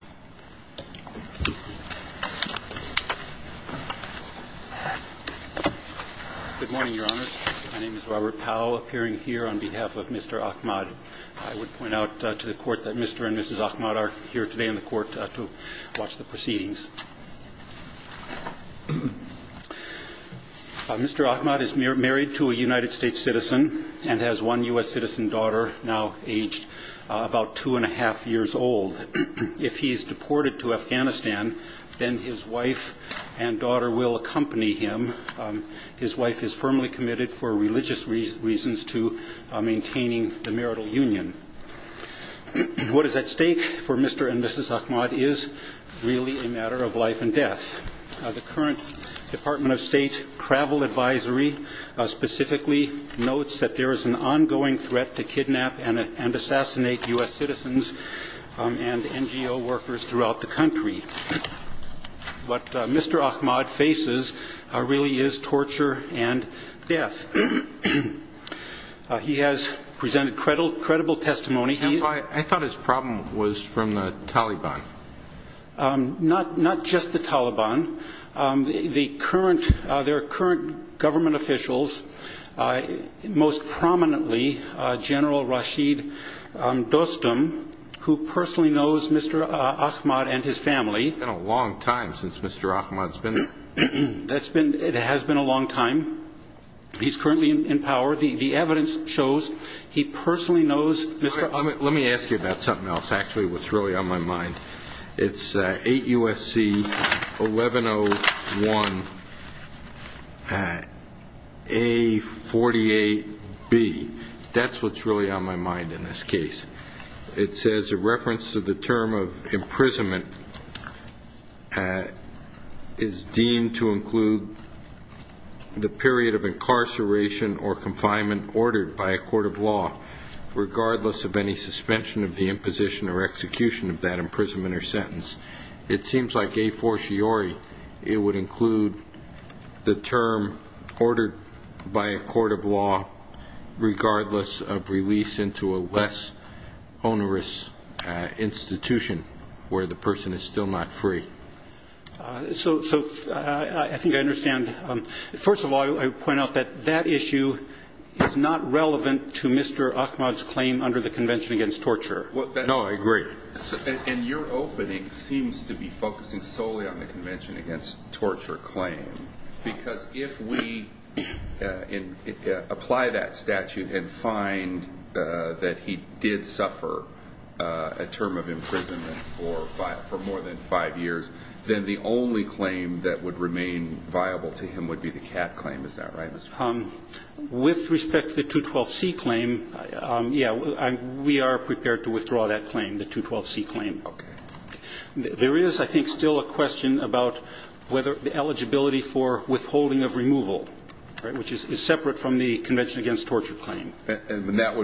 Good morning, Your Honor. My name is Robert Powell, appearing here on behalf of Mr. Ahmad. I would point out to the Court that Mr. and Mrs. Ahmad are here today in the Court to watch the proceedings. Mr. Ahmad is married to a United States citizen and has one U.S. citizen daughter now aged about two-and-a-half years old. If he is deported to Afghanistan, then his wife and daughter will accompany him. His wife is firmly committed for religious reasons to maintaining the marital union. What is at stake for Mr. and Mrs. Ahmad is really a matter of life and death. The current Department of State travel advisory specifically notes that there is an ongoing threat to kidnap and assassinate U.S. citizens and NGO workers throughout the country. What Mr. Ahmad faces really is torture and death. He has presented credible testimony. I thought his problem was from the Taliban. Not just the Taliban. There are current government officials, most prominently General Rashid Dostum, who personally knows Mr. Ahmad and his family. It's been a long time since Mr. Ahmad's been there. It has been a long time. He's currently in power. The evidence shows he personally knows Mr. Ahmad. Let me ask you about something else. Actually, what's really on my mind. It's 8 U.S.C. 1101 A48B. That's what's really on my mind in this case. It says a reference to the term of imprisonment is deemed to include the period of incarceration or confinement ordered by a court of law regardless of any suspension of the imposition or execution of that imprisonment or sentence. It seems like a fortiori it would include the term ordered by a court of law regardless of release into a less onerous institution where the person is still not free. So I think I understand. First of all, I would point out that that issue is not relevant to Mr. Ahmad's claim under the Convention Against Torture. No, I agree. And your opening seems to be focusing solely on the Convention Against Torture claim because if we apply that statute and find that he did suffer a term of imprisonment for more than five years, then the only claim that would remain viable to him would be the cat claim. Is that right, Mr. Ahmad? With respect to the 212C claim, yeah, we are prepared to withdraw that claim, the 212C claim. Okay. There is, I think, still a question about whether the eligibility for withholding of removal, which is separate from the Convention Against Torture claim. That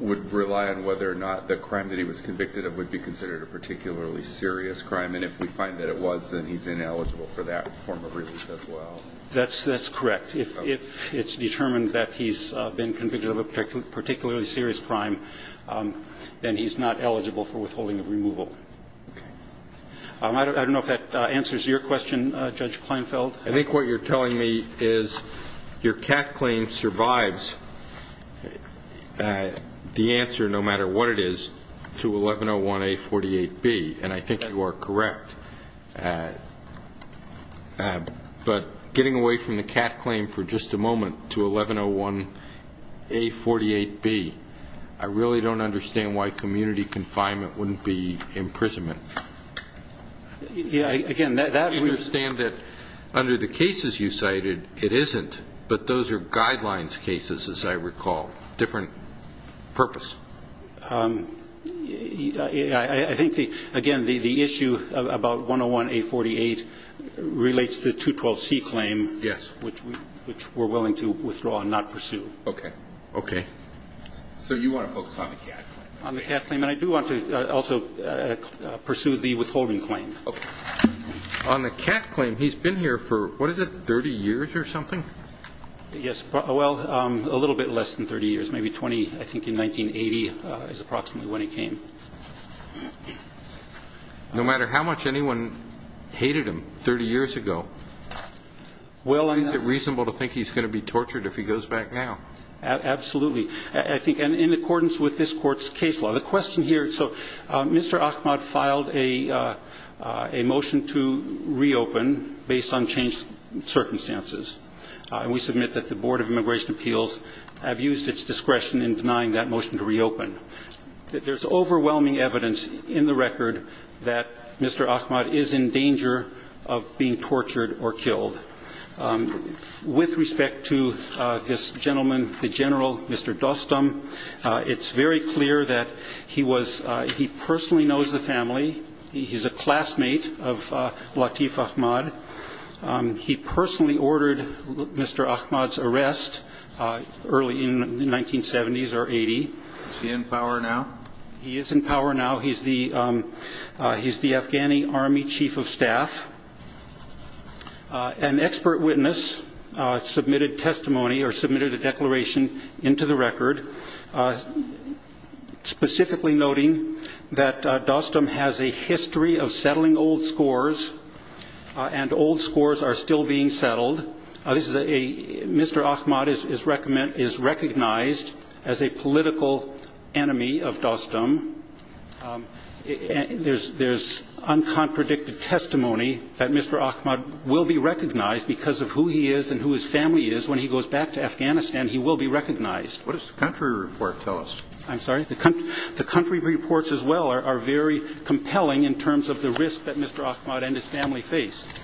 would rely on whether or not the crime that he was convicted of would be considered a particularly serious crime. And if we find that it was, then he's ineligible for that form of release as well. That's correct. If it's determined that he's been convicted of a particularly serious crime, then he's not eligible for withholding of removal. Okay. I don't know if that answers your question, Judge Kleinfeld. I think what you're telling me is your cat claim survives the answer, no matter what it is, to 1101A48B, and I think you are correct. But getting away from the cat claim for just a moment to 1101A48B, I really don't understand why community confinement wouldn't be imprisonment. Yeah. Again, that... I understand that under the cases you cited, it isn't, but those are guidelines cases, as I recall, different purpose. I think, again, the issue about 101A48 relates to the 212C claim, which we're willing to withdraw and not pursue. Okay. Okay. So you want to focus on the cat claim? On the cat claim. And I do want to also pursue the withholding claim. On the cat claim, he's been here for, what is it, 30 years or something? Yes. Well, a little bit less than 30 years, maybe 20, I think, in 1980 is approximately when he came. No matter how much anyone hated him 30 years ago, is it reasonable to think he's going to be tortured if he goes back now? Absolutely. I think, in accordance with this court's case law, the question here... So Mr. Ahmad filed a motion to reopen based on changed circumstances, and we submit that the Board of Immigration Appeals have used its discretion in denying that motion to reopen. There's overwhelming evidence in the record that Mr. Ahmad is in danger of being tortured or killed. With respect to this gentleman, the general, Mr. Dostum, it's very clear that he was... He personally knows the family. He's a classmate of Latif Ahmad. He personally ordered Mr. Ahmad's arrest early in the 1970s or 80. Is he in power now? He is in power now. He's the Afghani Army Chief of Staff. An expert witness submitted testimony or submitted a declaration into the record, specifically noting that Dostum has a history of settling old scores, and old scores are still being settled. This is a... Mr. Ahmad is recognized as a political enemy of Dostum. There's uncontradicted testimony that Mr. Ahmad will be recognized because of who he is and who his family is when he goes back to Afghanistan. He will be recognized. What does the country report tell us? I'm sorry? The country reports as well are very compelling in terms of the risk that Mr. Ahmad and his family face.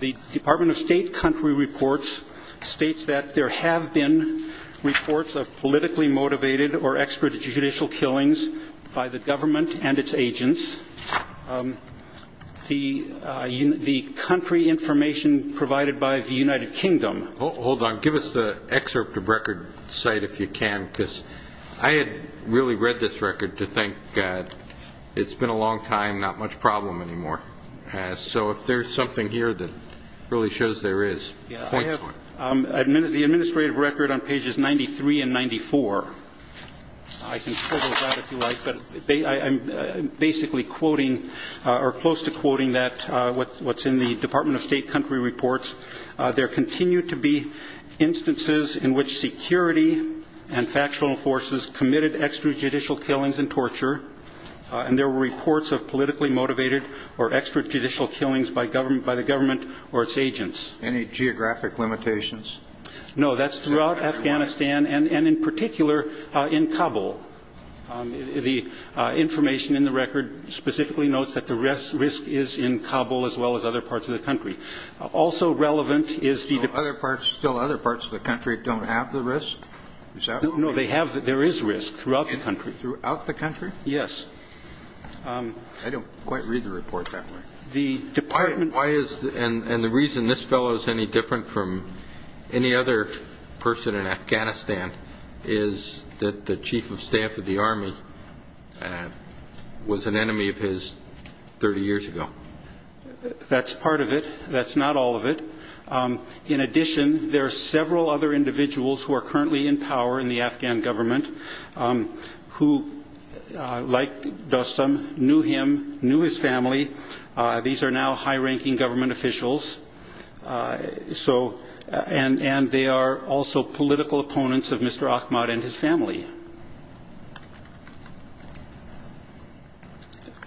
The Department of State country reports states that there have been reports of politically motivated or extrajudicial killings by the government and its agents. The country information provided by the United Kingdom... I haven't really read this record to think it's been a long time, not much problem anymore. So if there's something here that really shows there is, point for it. The administrative record on pages 93 and 94, I can pull those out if you like, but I'm basically quoting or close to quoting that, what's in the Department of State country reports. There continue to be instances in which security and factual forces committed extrajudicial killings and torture, and there were reports of politically motivated or extrajudicial killings by the government or its agents. Any geographic limitations? No, that's throughout Afghanistan and in particular in Kabul. The information in the record specifically notes that the risk is in Kabul as well as other parts of the country. Also relevant is the... So other parts, still other parts of the country don't have the risk? No, they have, there is risk throughout the country. Throughout the country? Yes. I don't quite read the report that way. The Department... Why is, and the reason this fellow is any different from any other person in Afghanistan is that the chief of staff of the army was an enemy of his 30 years ago. That's part of it, that's not all of it. In addition, there are several other individuals who are currently in power in the Afghan government who like Dostum, knew him, knew his family. These are now high-ranking government officials, so, and they are also political opponents of Mr. Ahmad and his family.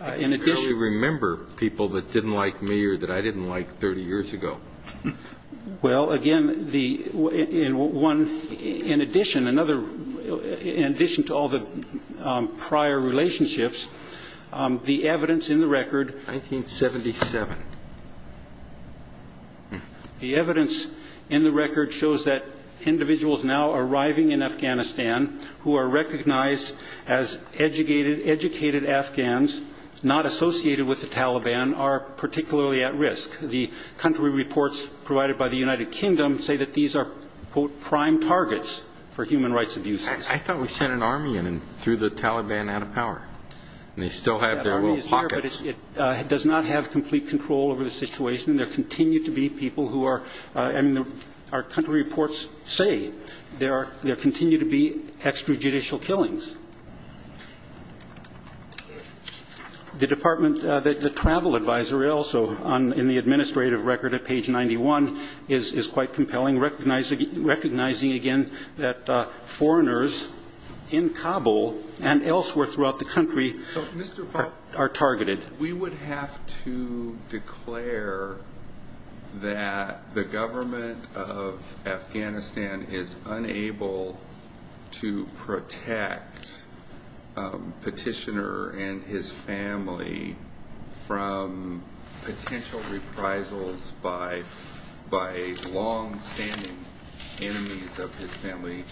I can barely remember people that didn't like me or that I didn't like 30 years ago. Well again, the, in addition, in addition to all the prior relationships, the evidence in the record... 1977. ...the evidence in the record shows that individuals now arriving in Afghanistan who have been recognized as educated, educated Afghans, not associated with the Taliban, are particularly at risk. The country reports provided by the United Kingdom say that these are, quote, prime targets for human rights abuses. I thought we sent an army in and threw the Taliban out of power, and they still have their little pockets. That army is here, but it does not have complete control over the situation. There continue to be people who are, I mean, our country reports say there are, there continue to be extrajudicial killings. The department, the travel advisory also, in the administrative record at page 91, is quite compelling, recognizing again that foreigners in Kabul and elsewhere throughout the country are targeted. We would have to declare that the government of Afghanistan is unable to do what it says to protect petitioner and his family from potential reprisals by long-standing enemies of his family,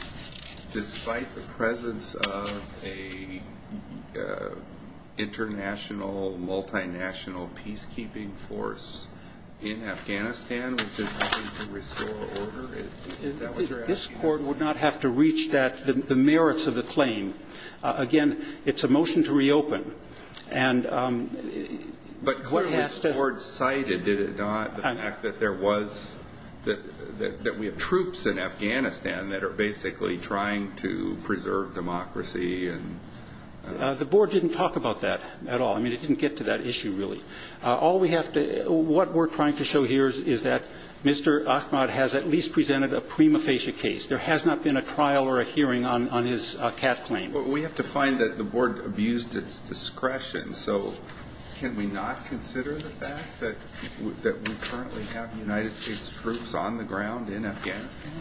despite the presence of an international, multinational peacekeeping force in Afghanistan, which is trying to restore order, if that's what you're asking. This Court would not have to reach that, the merits of the claim. Again, it's a motion to reopen, and what has to But clearly the Court cited, did it not, the fact that there was, that we have troops in Afghanistan that are basically trying to preserve democracy and The Board didn't talk about that at all. I mean, it didn't get to that issue, really. All we have to, what we're trying to show here is that Mr. Ahmad has at least presented a prima facie case. There has not been a trial or a hearing on his cash claim. We have to find that the Board abused its discretion, so can we not consider the fact that we currently have United States troops on the ground in Afghanistan?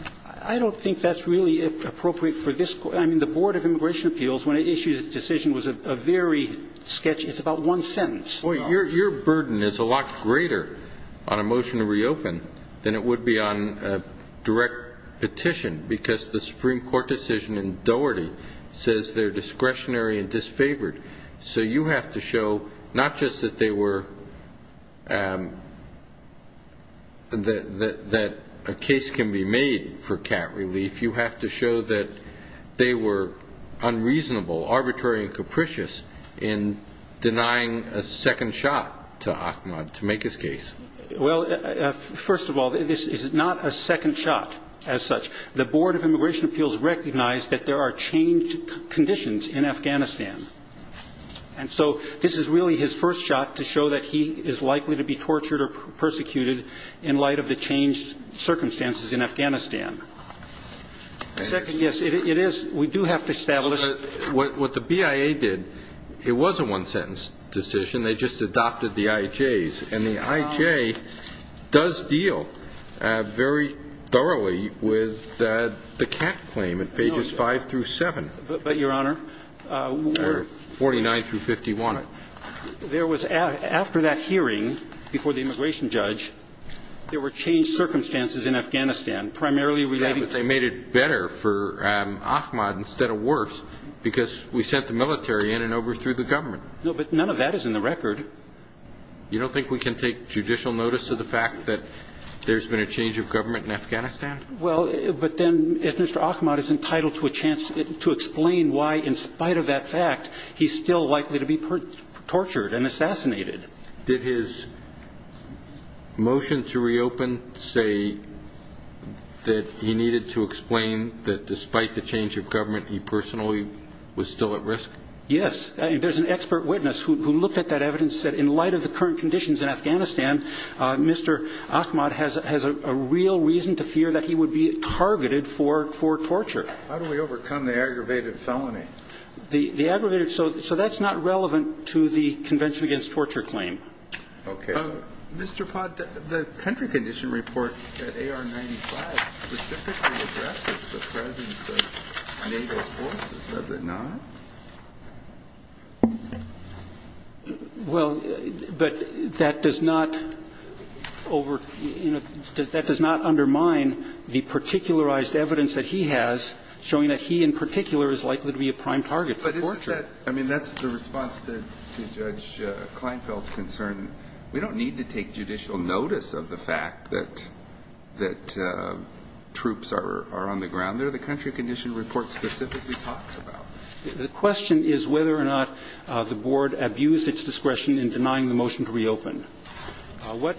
I don't think that's really appropriate for this Court. I mean, the Board of Immigration Appeals, when it issued its decision, was a very sketchy, it's about one sentence. Your burden is a lot greater on a motion to reopen than it would be on a direct petition, because the Supreme Court decision in Doherty says they're discretionary and disfavored. So you have to show not just that they were, that a case can be made for cat relief, you have to show that they were unreasonable, arbitrary, and capricious in denying a second shot to Ahmad to make his case. Well, first of all, this is not a second shot as such. The Board of Immigration Appeals recognized that there are changed conditions in Afghanistan. And so this is really his first shot to show that he is likely to be tortured or persecuted in light of the changed circumstances in Afghanistan. Second, yes, it is, we do have to establish. But what the BIA did, it was a one-sentence decision, they just adopted the IJs, and the IJ does deal very thoroughly with the cat claim at pages 5 through 7. But, Your Honor, there was, after that hearing before the immigration judge, there were changed circumstances in Afghanistan, primarily relating to... Yeah, but they made it better for Ahmad instead of worse, because we sent the military in and overthrew the government. No, but none of that is in the record. You don't think we can take judicial notice of the fact that there's been a change of government in Afghanistan? Well, but then if Mr. Ahmad is entitled to a chance to explain why, in spite of that fact, he's still likely to be tortured and assassinated. Did his motion to reopen say that he needed to explain that despite the change of government he personally was still at risk? Yes. There's an expert witness who looked at that evidence, said in light of the current conditions in Afghanistan, Mr. Ahmad has a real reason to fear that he would be targeted for torture. How do we overcome the aggravated felony? The aggravated... So that's not relevant to the Convention Against Torture claim. Okay. Mr. Pott, the country condition report at AR-95 specifically addresses the presence of NATO forces, does it not? Well, but that does not undermine the particularized evidence that he has, showing that he in particular is likely to be a prime target for torture. But isn't that, I mean, that's the response to Judge Kleinfeld's concern. We don't need to take judicial notice of the fact that troops are on the ground there. The country condition report specifically talks about that. The question is whether or not the Board abused its discretion in denying the motion to reopen. What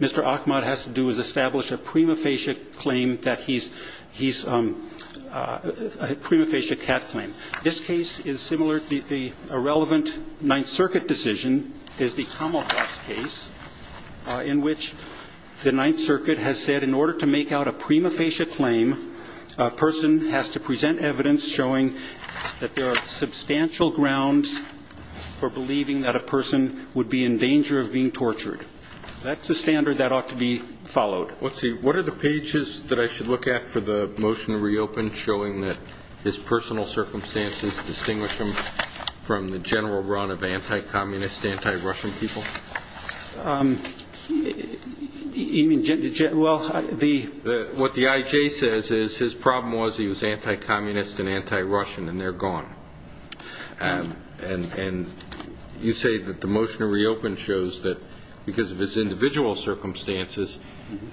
Mr. Ahmad has to do is establish a prima facie claim that he's a prima facie cat claim. This case is similar. The irrelevant Ninth Circuit decision is the Kamal Haas case in which the Ninth Circuit has said in order to make out a prima facie claim, a person has to present evidence showing that there are substantial grounds for believing that a person would be in danger of being tortured. That's a standard that ought to be followed. Let's see. What are the pages that I should look at for the motion to reopen showing that his personal circumstances distinguish him from the general run of anti-communist, anti-Russian people? You mean, well, the... What the IJ says is his problem was he was anti-communist and anti-Russian and they're gone. And you say that the motion to reopen shows that because of his individual circumstances,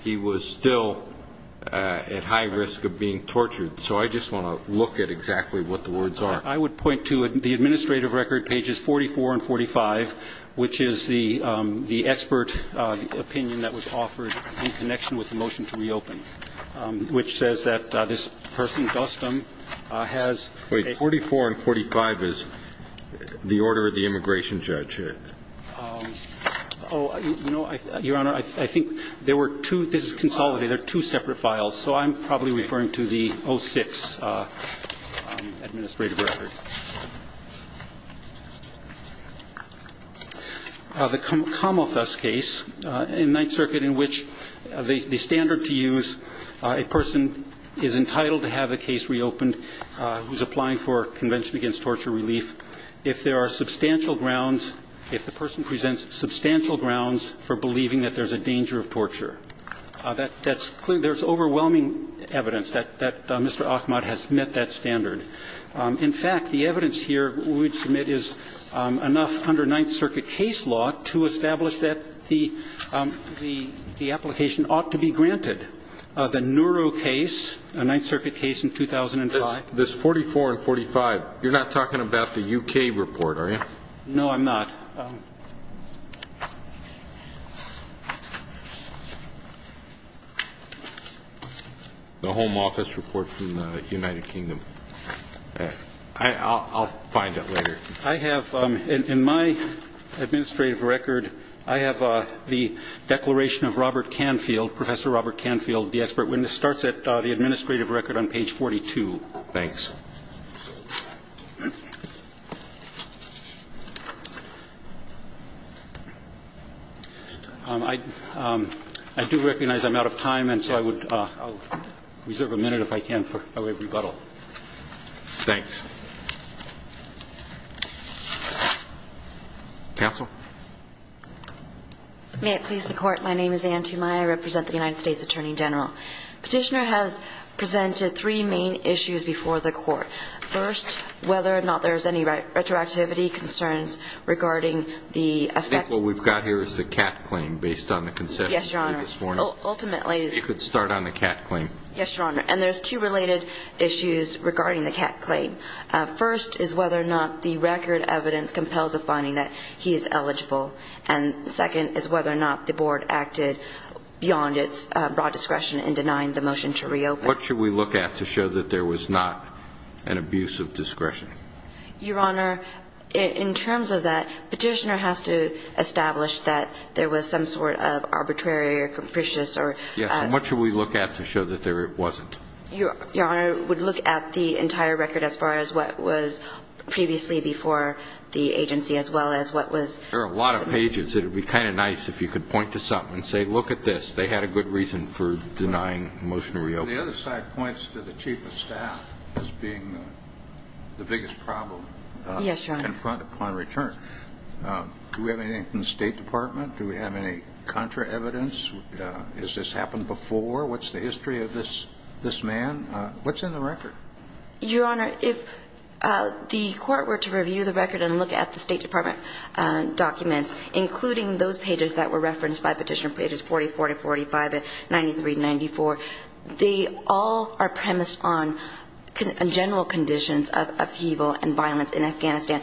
he was still at high risk of being tortured. So I just want to look at exactly what the words are. I would point to the administrative record, pages 44 and 45, which is the expert opinion that was offered in connection with the motion to reopen, which says that this person, Dostum, has a... Wait. 44 and 45 is the order of the immigration judge. Oh, you know, Your Honor, I think there were two... This is consolidated. They're two separate files. So I'm probably referring to the 06 administrative record. The Kamalthus case in Ninth Circuit, in which the standard to use a person is entitled to have the case reopened, who's applying for Convention Against Torture Relief, if there are substantial grounds, if the person presents substantial grounds for believing that there's a danger of torture. That's clear. There's overwhelming evidence that Mr. Ahmad has met that standard. In fact, the evidence here we would submit is enough under Ninth Circuit case law to establish that the application ought to be granted. The Neuro case, a Ninth Circuit case in 2005... This 44 and 45, you're not talking about the U.K. report, are you? No, I'm not. The Home Office report from the United Kingdom. I'll find it later. I have... In my administrative record, I have the declaration of Robert Canfield, Professor Robert Canfield, the expert witness, starts at the administrative record on page 42. Thanks. I do recognize I'm out of time, and so I would reserve a minute, if I can, for a rebuttal. Thanks. Counsel? May it please the Court, my name is Anne Tumai. I represent the United States Attorney General. Petitioner has presented three main issues before the Court. First, whether or not there's any retroactivity concerns regarding the effect... I think what we've got here is the Catt claim, based on the concession we made this morning. Yes, Your Honor. Ultimately... You could start on the Catt claim. Yes, Your Honor. And there's two related issues regarding the Catt claim. First is whether or not the record evidence compels a finding that he is eligible. And second is whether or not the Board acted beyond its broad discretion in denying the motion to reopen. What should we look at to show that there was not an abuse of discretion? Your Honor, in terms of that, Petitioner has to establish that there was some sort of arbitrary or capricious or... Yes, and what should we look at to show that there wasn't? Your Honor, we'd look at the entire record as far as what was previously before the agency as well as what was... There are a lot of pages. It would be kind of nice if you could point to something and say, look at this. They had a good reason for denying the motion to reopen. The other side points to the Chief of Staff as being the biggest problem. Yes, Your Honor. Confront upon return. Do we have anything from the State Department? Do we have any contra evidence? Has this happened before? What's the history of this man? What's in the record? Your Honor, if the Court were to review the record and look at the State Department documents, including those pages that were referenced by Petitioner, pages 40, 40, 45, 93, 94, they all are premised on general conditions of upheaval and violence in Afghanistan.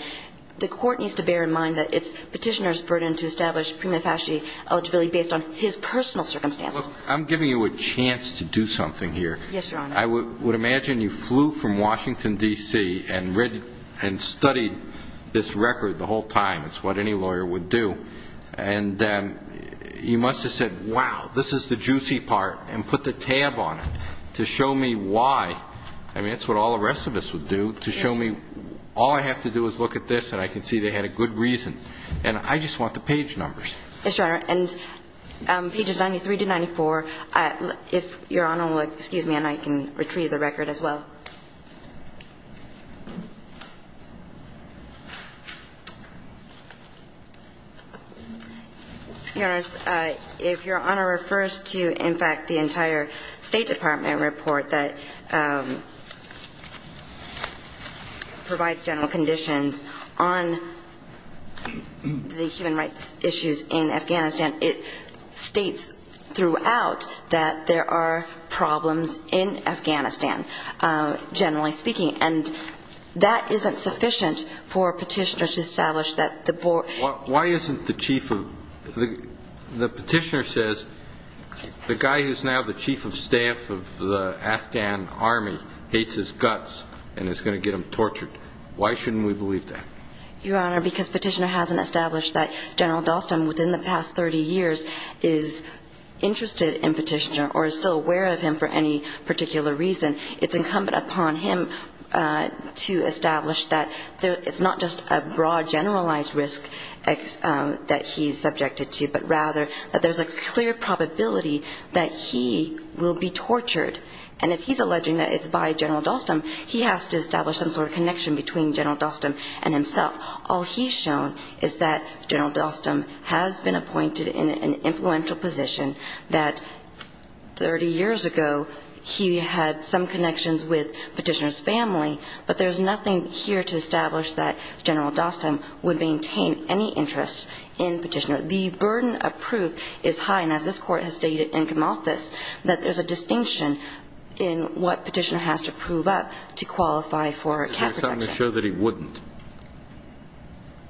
The Court needs to bear in mind that it's Petitioner's burden to establish prima facie eligibility based on his personal circumstances. Look, I'm giving you a chance to do something here. Yes, Your Honor. I would imagine you flew from Washington, D.C. and studied this record the whole time. It's what any lawyer would do. And you must have said, wow, this is the juicy part, and put the tab on it to show me why. I mean, that's what all the rest of us would do. Yes. All I have to do is look at this and I can see they had a good reason. And I just want the page numbers. Yes, Your Honor. And pages 93 to 94, if Your Honor will excuse me and I can retrieve the record as well. Your Honor, if Your Honor refers to, in fact, the entire State Department report that provides general conditions on the human rights issues in Afghanistan, it states throughout that there are problems in Afghanistan, generally speaking. And that isn't sufficient for Petitioner to establish that the board Why isn't the chief of The Petitioner says the guy who's now the chief of staff of the Afghan army hates his guts and is going to get him tortured. Why shouldn't we believe that? Your Honor, because Petitioner hasn't established that General Dalston, within the past 30 years, is interested in Petitioner or is still aware of him for any particular reason. It's incumbent upon him to establish that it's not just a broad, generalized risk that he's subjected to, but rather that there's a clear probability that he will be tortured. And if he's alleging that it's by General Dalston, he has to establish some sort of connection between General Dalston and himself. All he's shown is that General Dalston has been appointed in an influential position that 30 years ago he had some connections with Petitioner's family, but there's nothing here to establish that General Dalston would maintain any interest in Petitioner. The burden of proof is high, and as this Court has stated in Kamalthus, that there's a distinction in what Petitioner has to prove up to qualify for cat protection. Is there something to show that he wouldn't?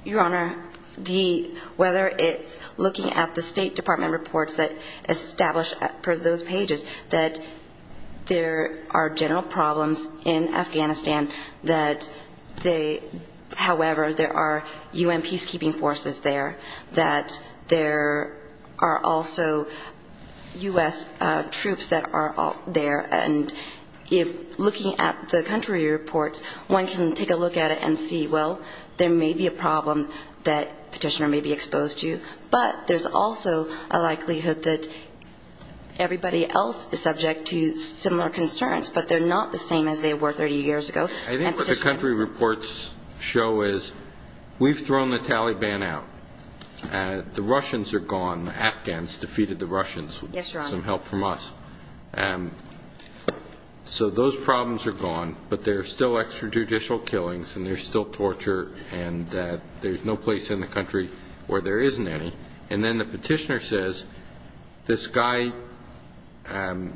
Your Honor, the, whether it's looking at the State Department reports that establish, per those pages, that there are general problems in Afghanistan, that they, however, there are U.N. peacekeeping forces there, that there are also U.S. troops that are there, and if looking at the country reports, one can take a look at it and see, well, there may be a problem that Petitioner may be exposed to, but there's also a likelihood that everybody else is subject to similar concerns, but they're not the same as they were 30 years ago. I think what the country reports show is we've thrown the Taliban out. The Russians are gone. The Afghans defeated the Russians with some help from us. Yes, Your Honor. So those problems are gone, but there are still extrajudicial killings, and there's still torture, and there's no place in the country where there isn't any. And then the Petitioner says, this guy, can't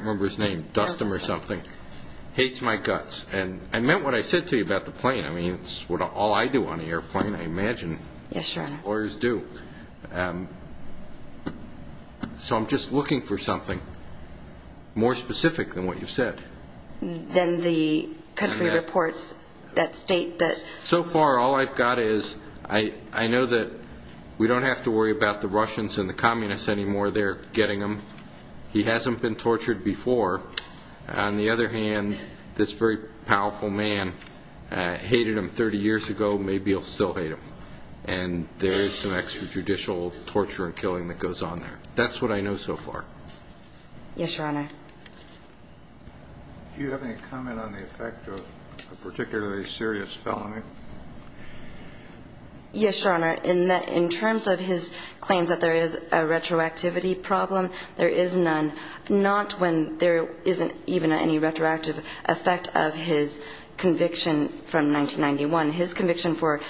remember his name, Dustin or something, hates my guts. And I meant what I said to you about the plane. I mean, it's all I do on an airplane, I imagine. Yes, Your Honor. Lawyers do. So I'm just looking for something more specific than what you've said. Then the country reports that state that... So far, all I've got is I know that we don't have to worry about the Russians and the communists anymore. They're getting them. He hasn't been tortured before. On the other hand, this very powerful man hated him 30 years ago. Maybe he'll still hate him. And there is some extrajudicial torture and killing that goes on there. That's what I know so far. Yes, Your Honor. Do you have any comment on the effect of a particularly serious felony? Yes, Your Honor. In terms of his claims that there is a retroactivity problem, there is none. Not when there isn't even any retroactive effect of his conviction from 1991. His conviction for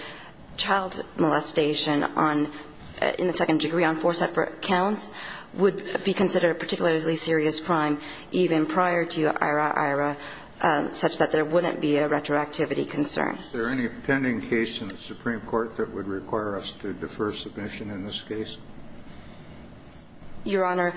child molestation in the second degree on four separate counts would be considered a particularly serious crime even prior to Ira-Ira such that there wouldn't be a retroactivity concern. Is there any pending case in the Supreme Court that would require us to defer submission in this case? Your Honor,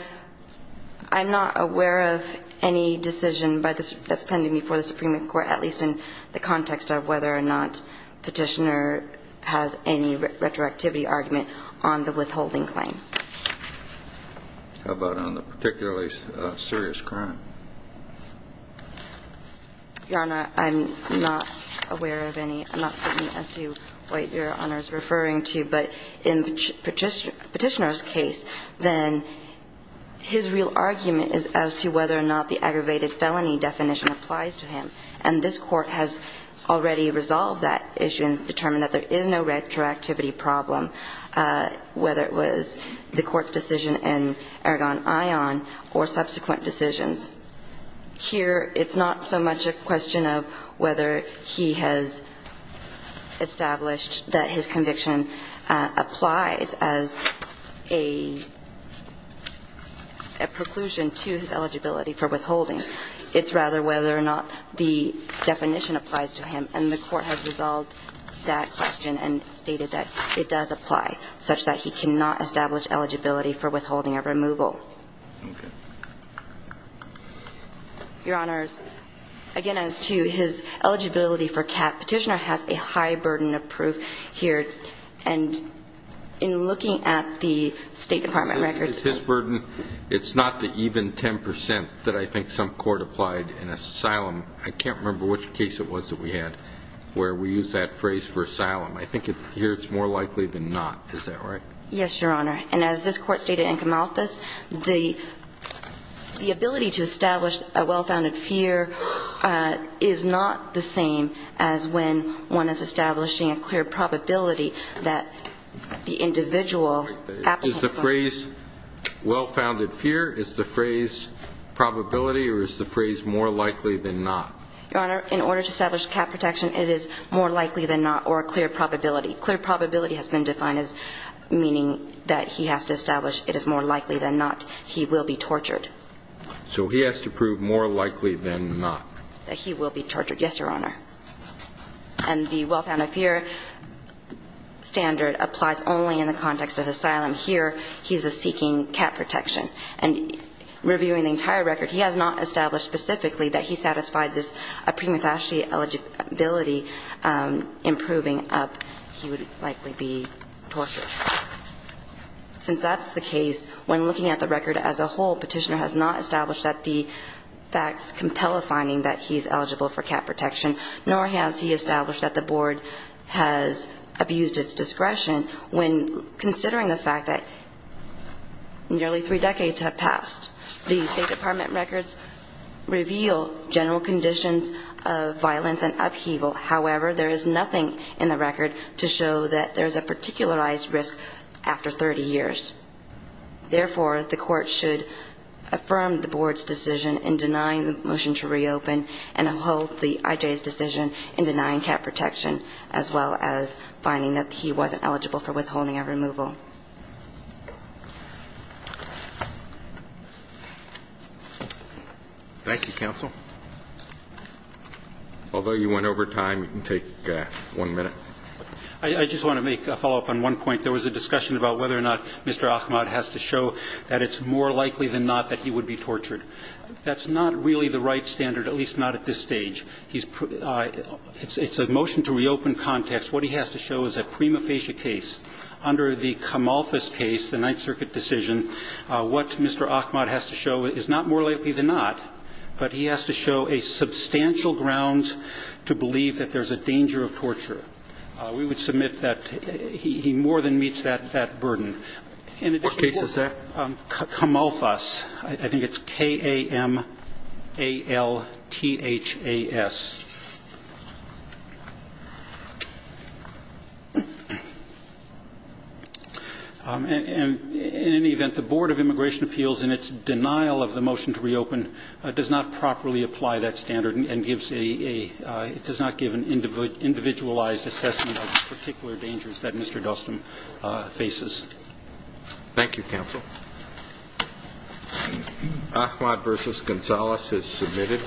I'm not aware of any decision that's pending before the Supreme Court at least in the context of whether or not Petitioner has any retroactivity argument on the withholding claim. How about on the particularly serious crime? Your Honor, I'm not aware of any. I'm not certain as to what Your Honor is referring to. But in Petitioner's case, then, his real argument is as to whether or not the aggravated felony definition applies to him. And this Court has already resolved that issue and determined that there is no retroactivity problem whether it was the Court's decision in Ergon Ion or subsequent decisions. Here, it's not so much a question of whether he has established that his conviction applies as a preclusion to his eligibility for withholding. It's rather whether or not the definition applies to him. And the Court has resolved that question and stated that it does apply such that he cannot establish eligibility for withholding or removal. Your Honor, again, as to his eligibility for cap, Petitioner has a high burden of proof here. And in looking at the State Department records... His burden, it's not the even 10% that I think some court applied in asylum. I can't remember which case it was that we had where we used that phrase for asylum. I think here it's more likely than not. Is that right? Yes, Your Honor. And as this Court stated in Kamalthas, the ability to establish a well-founded fear is not the same as when one is establishing a clear probability that the individual applicants... Is the phrase, well-founded fear, is the phrase probability or is the phrase more likely than not? Your Honor, in order to establish cap protection, it is more likely than not or a clear probability. Clear probability has been defined as meaning that he has to establish it is more likely than not he will be tortured. So he has to prove more likely than not? That he will be tortured, yes, Your Honor. And the well-founded fear standard applies only in the context of asylum. Here, he's seeking cap protection. And reviewing the entire record, he has not established specifically that he satisfied this a prima facie eligibility improving up he would likely be tortured. Since that's the case, when looking at the record as a whole, Petitioner has not established that the facts compel a finding that he's eligible for cap protection, nor has he established that the Board has abused its discretion when considering the fact that nearly three decades have passed. The State Department records reveal general conditions of violence and upheaval. However, there is nothing in the record to show that there's a particularized risk after 30 years. Therefore, the Court should affirm the Board's decision in denying the motion to reopen and uphold the IJ's decision in denying cap protection as well as finding that he wasn't eligible for withholding a removal. Thank you, counsel. Although you went over time, you can take one minute. I just want to make a follow-up on one point. There was a discussion about whether or not Mr. Ahmad has to show that it's more likely than not that he would be tortured. That's not really the right standard, at least not at this stage. It's a motion to reopen context. What he has to show is a prima facie case. Under the Kamalfas case, the Ninth Circuit decision, what Mr. Ahmad has to show is not more likely than not, but he has to show a substantial grounds to believe that there's a danger of torture. We would submit that he more than meets that burden. What case is that? Kamalfas. I think it's K-A-M-A-L-T-H-A-S. In any event, the Board of Immigration Appeals, in its denial of the motion to reopen, does not properly apply that standard and does not give an individualized assessment of the particular dangers that Mr. Dustin faces. Thank you, counsel. Ahmad v. Gonzalez is submitted.